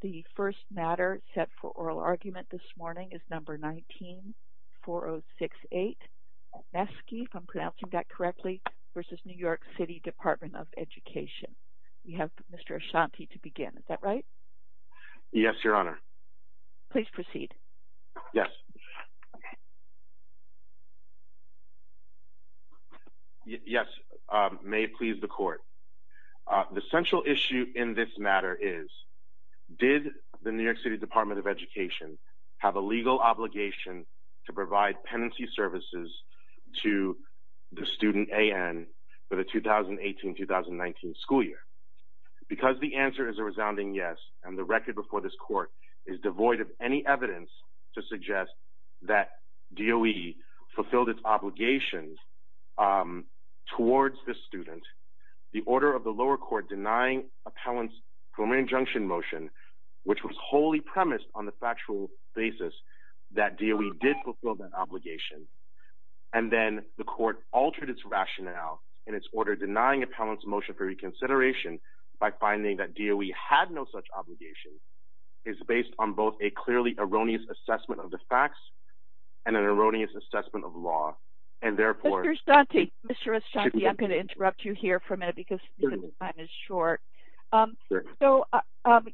The first matter set for oral argument this morning is No. 19-4068 v. New York City Department of Education. We have Mr. Ashanti to begin, is that right? Yes, Your Honor. Please proceed. Okay. Yes, may it please the Court. The central issue in this matter is, did the New York City Department of Education have a legal obligation to provide penancy services to the student A.N. for the 2018-2019 school year? Because the answer is a resounding yes, and the record before this Court is devoid of any evidence to suggest that DOE fulfilled its obligations towards this student. The order of the lower court denying appellant's preliminary injunction motion, which was wholly premised on the factual basis that DOE did fulfill that obligation, and then the court altered its rationale in its order denying appellant's motion for reconsideration by finding that DOE had no such obligation, is based on both a clearly erroneous assessment of the facts and an erroneous assessment of law. And therefore... Mr. Ashanti, Mr. Ashanti, I'm going to interrupt you here for a minute because time is short. So,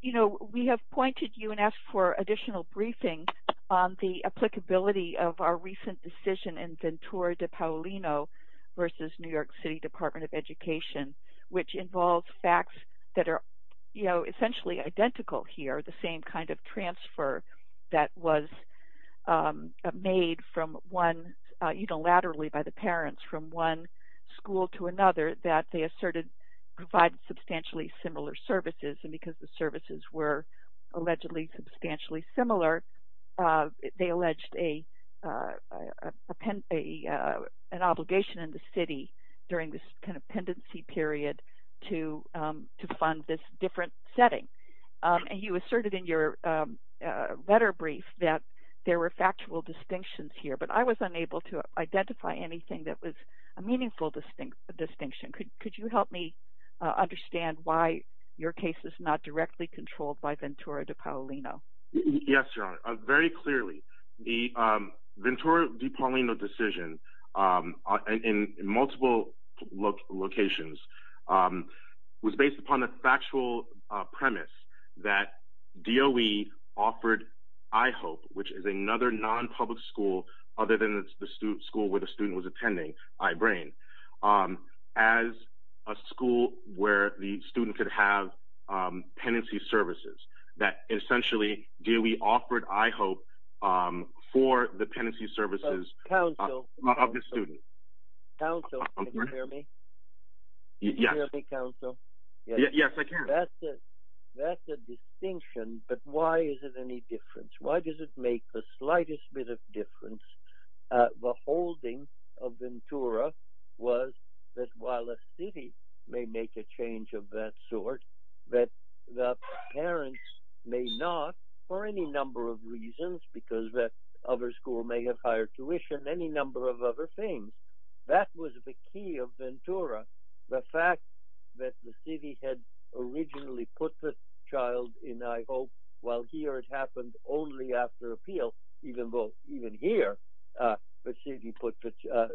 you know, we have pointed you and asked for additional briefing on the applicability of our recent decision in Ventura de Paulino v. New York City Department of Education, which involves facts that are essentially identical here, the same kind of transfer that was made unilaterally by the parents from one school to another that they asserted provided substantially similar services, and because the services were allegedly substantially similar, they alleged an obligation in the city during this kind of pendency period, to fund this different setting. And you asserted in your letter brief that there were factual distinctions here, but I was unable to identify anything that was a meaningful distinction. Could you help me understand why your case is not directly controlled by Ventura de Paulino? Yes, Your Honor, very clearly, the Ventura de Paulino decision in multiple locations was based upon a factual premise that DOE offered I-HOPE, which is another non-public school other than the school where the student was attending, I-BRAIN, as a school where the student could have pendency services, that essentially DOE offered I-HOPE for the school. Yes. Can you hear me, counsel? Yes, I can. That's a distinction, but why is it any different? Why does it make the slightest bit of difference, the holding of Ventura was that while a city may make a change of that sort, that the parents may not, for any number of reasons, because that other school may have higher tuition, any number of other things, that was the key of Ventura. The fact that the city had originally put the child in I-HOPE, while here it happened only after appeal, even here, the city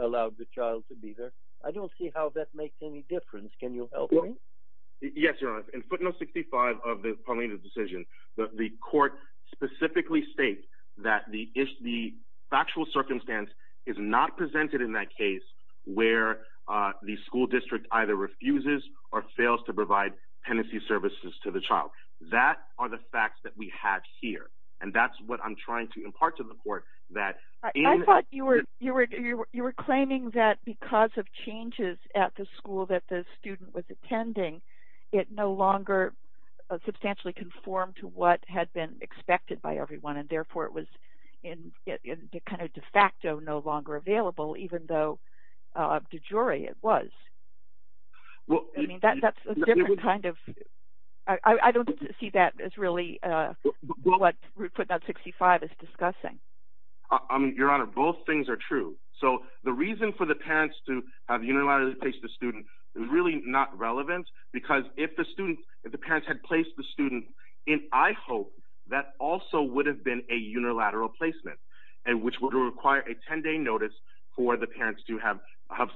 allowed the child to be there, I don't see how that makes any difference. Can you help me? Yes, Your Honor. In footnote 65 of the Paulino decision, the court specifically states that the factual circumstance is not presented in that case where the school district either refuses or fails to provide pendency services to the child. That are the facts that we have here, and that's what I'm trying to impart to the court that... I thought you were claiming that because of changes at the school that the student was attending, it no longer substantially conformed to what had been expected by everyone and therefore it was kind of de facto no longer available even though de jure it was. I mean, that's a different kind of... I don't see that as really what footnote 65 is discussing. Your Honor, both things are true. So the reason for the parents to have unilaterally placed the student is really not relevant because if the students, if the parents had placed the student in I-HOPE, that also would have been a unilateral placement, and which would require a 10-day notice for the parents to have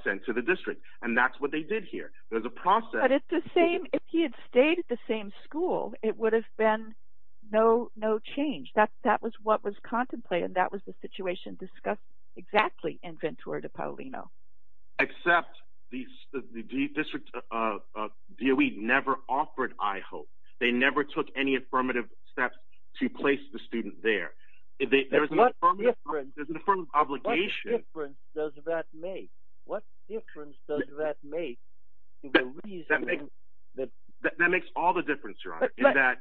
sent to the district. And that's what they did here. There's a process... But it's the same... If he had stayed at the same school, it would have been no change. That was what was contemplated, that was the situation discussed exactly in Ventura de Paulino. Except the district of DOE never offered I-HOPE. They never took any affirmative steps to place the student there. There's an affirmative obligation... What difference does that make? What difference does that make? That makes all the difference, Your Honor, in that...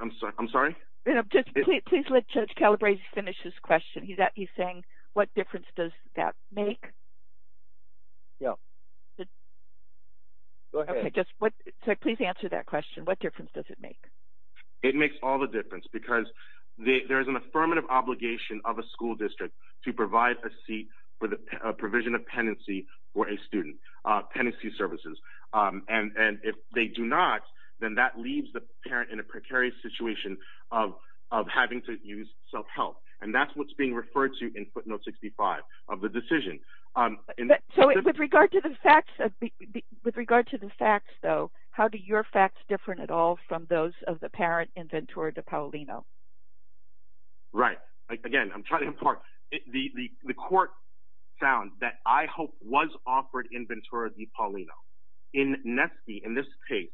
I'm sorry? Just please let Judge Calabresi finish his question. He's saying, what difference does that make? Yeah. Go ahead. Please answer that question, what difference does it make? It makes all the difference, because there's an affirmative obligation of a school district to provide a seat for the provision of penancy for a student, penancy services. And if they do not, then that leaves the parent in a precarious situation of having to use self-help. And that's what's being referred to in footnote 65 of the decision. So, with regard to the facts, though, how do your facts differ at all from those of the parent in Ventura de Paulino? Right. Again, I'm trying to impart... The court found that I-HOPE was offered in Ventura de Paulino. In Netsky, in this case,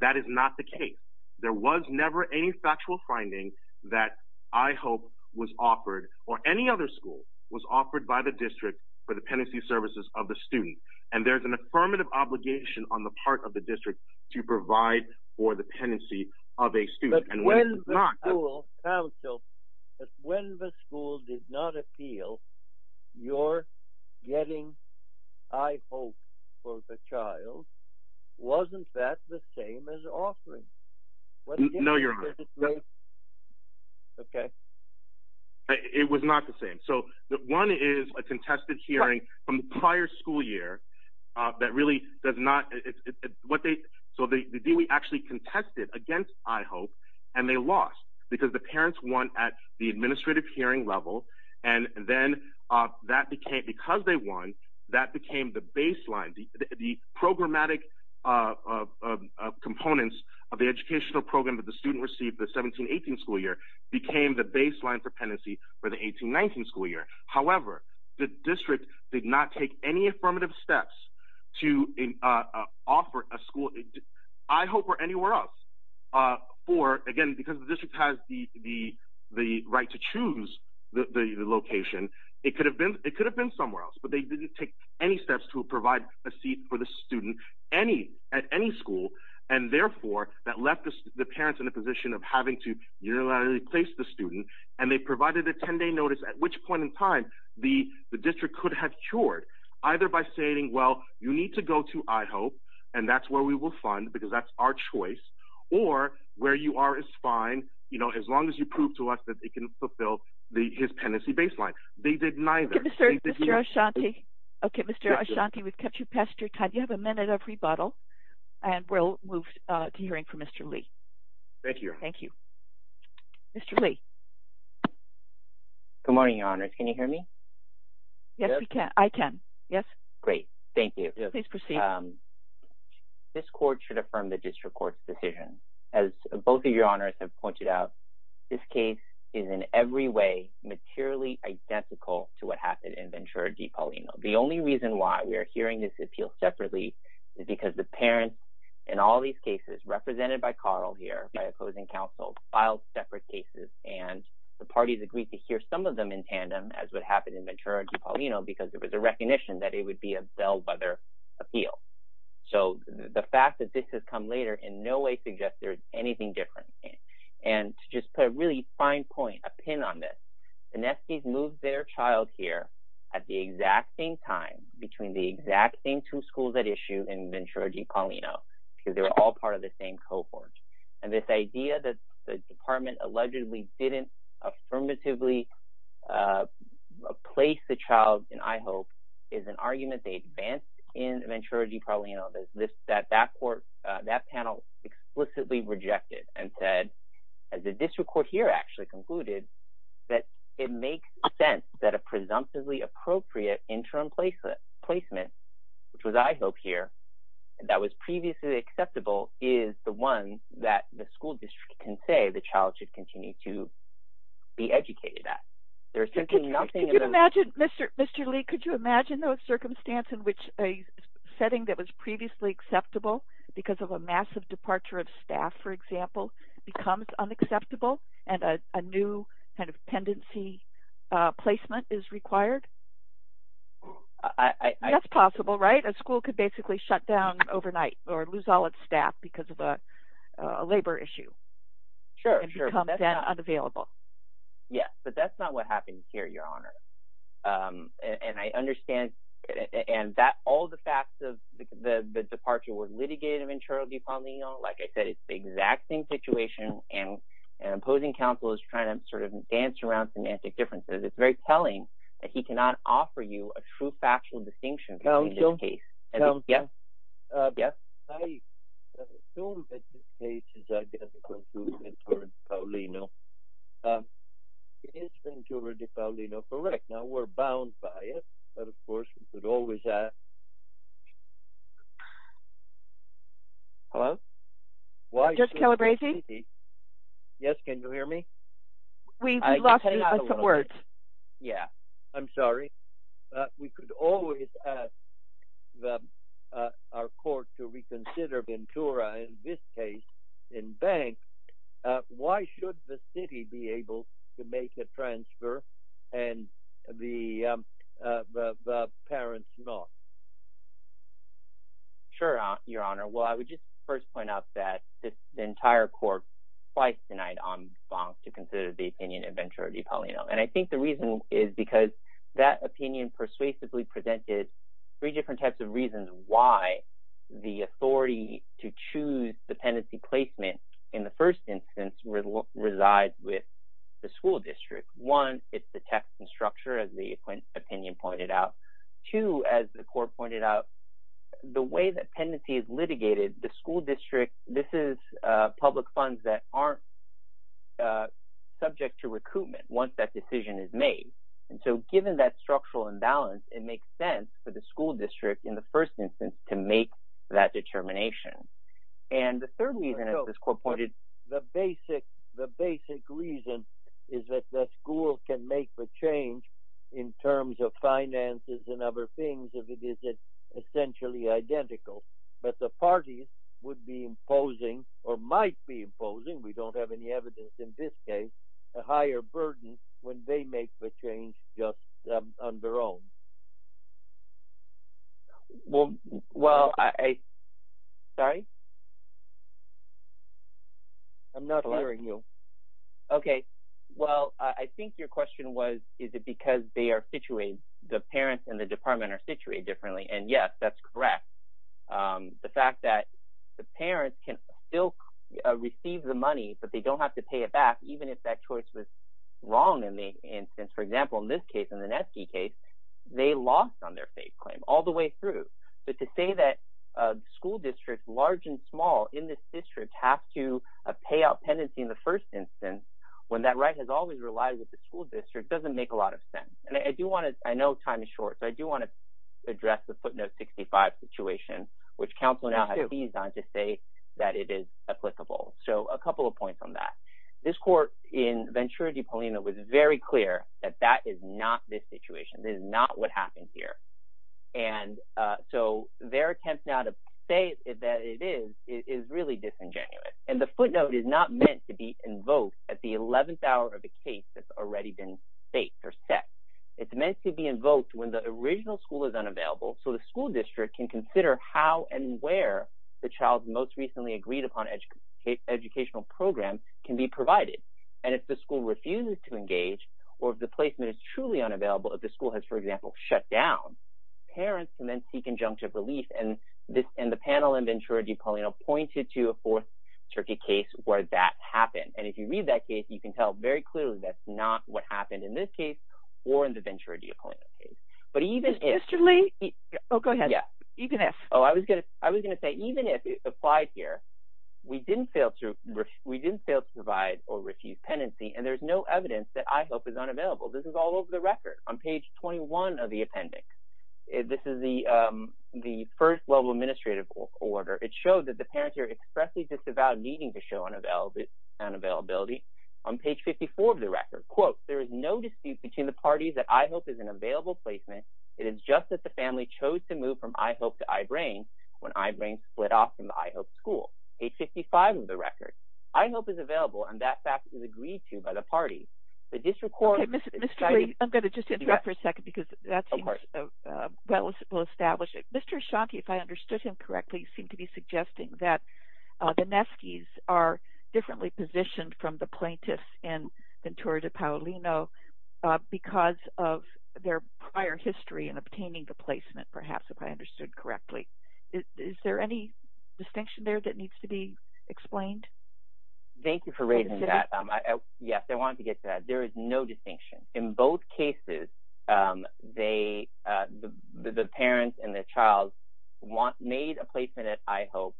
that is not the case. There was never any factual finding that I-HOPE was offered, or any other school was offered by the district for the penancy services of the student. And there's an affirmative obligation on the part of the district to provide for the penancy of a student. But when the school, counsel, but when the school did not appeal your getting I-HOPE for the child, wasn't that the same as offering? No, Your Honor. Okay. It was not the same. Okay. So, one is a contested hearing from the prior school year that really does not... So, the DOE actually contested against I-HOPE, and they lost because the parents won at the administrative hearing level. And then, because they won, that became the baseline. The programmatic components of the educational program that the student received the 17-18 school year became the baseline for penancy for the 18-19 school year. However, the district did not take any affirmative steps to offer a school I-HOPE or anywhere else for, again, because the district has the right to choose the location. It could have been somewhere else, but they didn't take any steps to provide a seat for the student at any school. And therefore, that left the parents in a position of having to unilaterally place the student, and they provided a 10-day notice at which point in time the district could have cured, either by saying, well, you need to go to I-HOPE, and that's where we will fund, because that's our choice, or where you are is fine, you know, as long as you prove to us that they can fulfill his penancy baseline. They did neither. Okay, Mr. Ashanti. Okay, Mr. Ashanti, we've kept you past your time. You have a minute of rebuttal, and we'll move to hearing from Mr. Lee. Thank you. Thank you. Mr. Lee. Good morning, Your Honors. Can you hear me? Yes, we can. I can. Yes. Great. Thank you. Please proceed. This court should affirm the district court's decision. As both of Your Honors have pointed out, this case is in every way materially identical to what happened in Ventura Di Paulino. The only reason why we are hearing this appeal separately is because the parents, in all these cases, represented by Carl here, by opposing counsel, filed separate cases, and the parties agreed to hear some of them in tandem, as would happen in Ventura Di Paulino, because there was a recognition that it would be a bellwether appeal. So, the fact that this has come later in no way suggests there is anything different. And to just put a really fine point, a pin on this, the Nestis moved their child here at the exact same time, between the exact same two schools at issue in Ventura Di Paulino, because they were all part of the same cohort. And this idea that the department allegedly didn't affirmatively place the child in I Hope is an argument they advanced in Ventura Di Paulino that that panel explicitly rejected and said, as the district court here actually concluded, that it makes sense that a presumptively appropriate interim placement, which was I Hope here, that was previously acceptable, is the one that the school district can say the child should continue to be educated at. Could you imagine, Mr. Lee, could you imagine a circumstance in which a setting that was previously acceptable, because of a massive departure of staff, for example, becomes unacceptable, and a new kind of pendency placement is required? That's possible, right? A school could basically shut down overnight or lose all its staff because of a labor issue. Sure, sure. And become then unavailable. Yes, but that's not what happened here, Your Honor. And I understand, and all the facts of the departure were litigated in Ventura Di Paulino. Like I said, it's the exact same situation, and an opposing counsel is trying to sort of dance around semantic differences. It's very telling that he cannot offer you a true factual distinction in this case. I assume that this case is identical to Ventura Di Paulino. Is Ventura Di Paulino correct? Now, we're bound by it, but of course, we could always ask. Hello? Judge Calabresi? Yes, can you hear me? We lost you on some words. Yeah, I'm sorry. We could always ask our court to reconsider Ventura, in this case, in bank. Why should the city be able to make a transfer and the parents not? Sure, Your Honor. Well, I would just first point out that the entire court twice denied on bond to consider the opinion of Ventura Di Paulino. And I think the reason is because that opinion persuasively presented three different types of reasons why the authority to choose dependency placement in the first instance resides with the school district. One, it's the text and structure, as the opinion pointed out. Two, as the court pointed out, the way that dependency is litigated, the school district, this is public funds that aren't subject to recoupment once that decision is made. And so, given that structural imbalance, it makes sense for the school district, in the first instance, to make that determination. And the third reason, as this court pointed... But the parties would be imposing, or might be imposing, we don't have any evidence in this case, a higher burden when they make the change just on their own. Well, I... Sorry? I'm not hearing you. Okay. Well, I think your question was, is it because they are situated? The parents in the department are situated differently. And yes, that's correct. The fact that the parents can still receive the money, but they don't have to pay it back, even if that choice was wrong in the instance. For example, in this case, in the Netsky case, they lost on their faith claim all the way through. But to say that school districts, large and small, in this district have to pay out pendency in the first instance, when that right has always relied with the school district, doesn't make a lot of sense. And I do want to... I know time is short, so I do want to address the footnote 65 situation, which counsel now has eased on to say that it is applicable. So, a couple of points on that. This court in Ventura di Polina was very clear that that is not this situation. This is not what happened here. And so, their attempt now to say that it is, is really disingenuous. And the footnote is not meant to be invoked at the 11th hour of the case that's already been set. It's meant to be invoked when the original school is unavailable, so the school district can consider how and where the child's most recently agreed upon educational program can be provided. And if the school refuses to engage, or if the placement is truly unavailable, if the school has, for example, shut down, parents can then seek injunctive relief. And the panel in Ventura di Polina pointed to a 4th Turkey case where that happened. And if you read that case, you can tell very clearly that's not what happened in this case or in the Ventura di Polina case. But even if... Mr. Lee? Oh, go ahead. You can ask. Oh, I was going to say, even if it's applied here, we didn't fail to provide or refuse penancy, and there's no evidence that I hope is unavailable. This is all over the record on page 21 of the appendix. This is the first level administrative order. It showed that the parents are expressly disavowed needing to show unavailability on page 54 of the record. Quote, there is no dispute between the parties that I hope is an available placement. It is just that the family chose to move from I hope to I brain when I brain split off from the I hope school. Page 55 of the record. I hope is available, and that fact is agreed to by the parties. The district court... Okay, Mr. Lee, I'm going to just interrupt for a second because that seems well established. Mr. Ashanti, if I understood him correctly, seemed to be suggesting that the Neskis are differently positioned from the plaintiffs in Ventura de Paulino because of their prior history in obtaining the placement, perhaps, if I understood correctly. Is there any distinction there that needs to be explained? Thank you for raising that. Yes, I wanted to get to that. There is no distinction. In both cases, the parents and the child made a placement at I hope.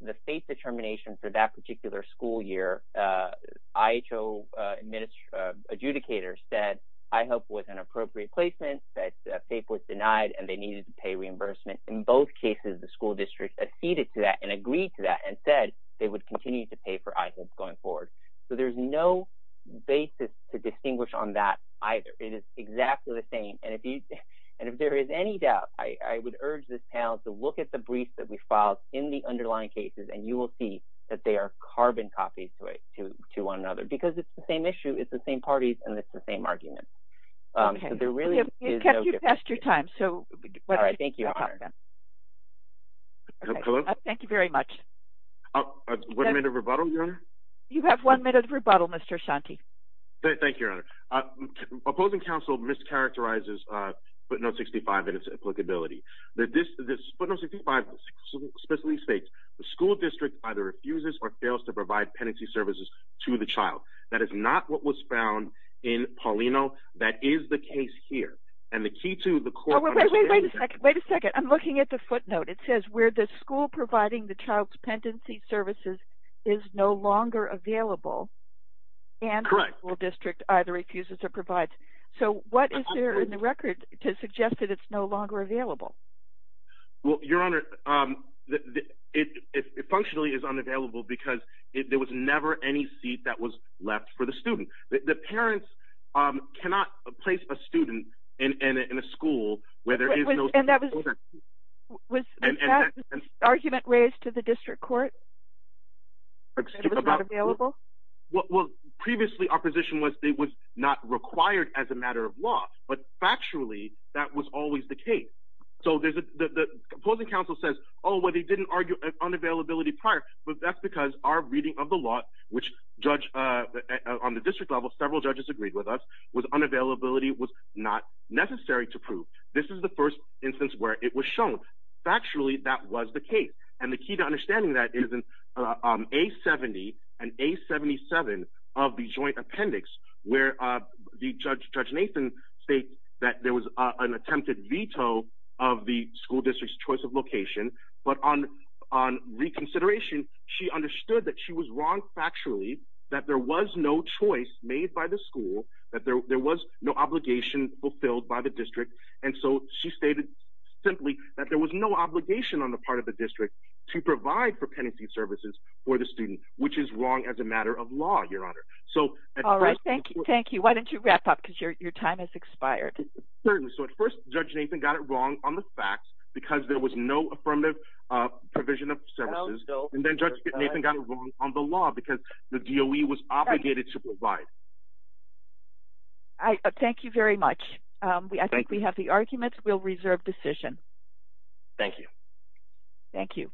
The state determination for that particular school year, IHO adjudicator said I hope was an appropriate placement. That paper was denied, and they needed to pay reimbursement. In both cases, the school district acceded to that and agreed to that and said they would continue to pay for I hope going forward. There's no basis to distinguish on that either. It is exactly the same. If there is any doubt, I would urge this panel to look at the briefs that we filed in the underlying cases, and you will see that they are carbon copies to one another because it's the same issue. It's the same parties, and it's the same argument. There really is no difference. You've passed your time. Thank you very much. Was there any rebuttal, Your Honor? You have one minute of rebuttal, Mr. Shanti. Thank you, Your Honor. Opposing counsel mischaracterizes footnote 65 in its applicability. Footnote 65 specifically states the school district either refuses or fails to provide pendency services to the child. That is not what was found in Paulino. That is the case here. And the key to the court understanding... Wait a second. Wait a second. I'm looking at the footnote. It says where the school providing the child's pendency services is no longer available... ...and the school district either refuses or provides. So what is there in the record to suggest that it's no longer available? Well, Your Honor, it functionally is unavailable because there was never any seat that was left for the student. The parents cannot place a student in a school where there is no... And that was the argument raised to the district court? That it was not available? Well, previously our position was it was not required as a matter of law, but factually that was always the case. So the opposing counsel says, oh, well, they didn't argue unavailability prior, but that's because our reading of the law, which on the district level, several judges agreed with us, was unavailability was not necessary to prove. This is the first instance where it was shown. Factually, that was the case. And the key to understanding that is in A-70 and A-77 of the joint appendix where Judge Nathan states that there was an attempted veto of the school district's choice of location, but on reconsideration, she understood that she was wrong factually, that there was no choice made by the school, that there was no obligation fulfilled by the district. And so she stated simply that there was no obligation on the part of the district to provide propensity services for the student, which is wrong as a matter of law, Your Honor. All right. Thank you. Thank you. Why don't you wrap up? Because your time has expired. Certainly. So at first, Judge Nathan got it wrong on the facts because there was no affirmative provision of services. And then Judge Nathan got it wrong on the law because the DOE was obligated to provide. Thank you very much. I think we have the arguments. We'll reserve decision. Thank you. Thank you.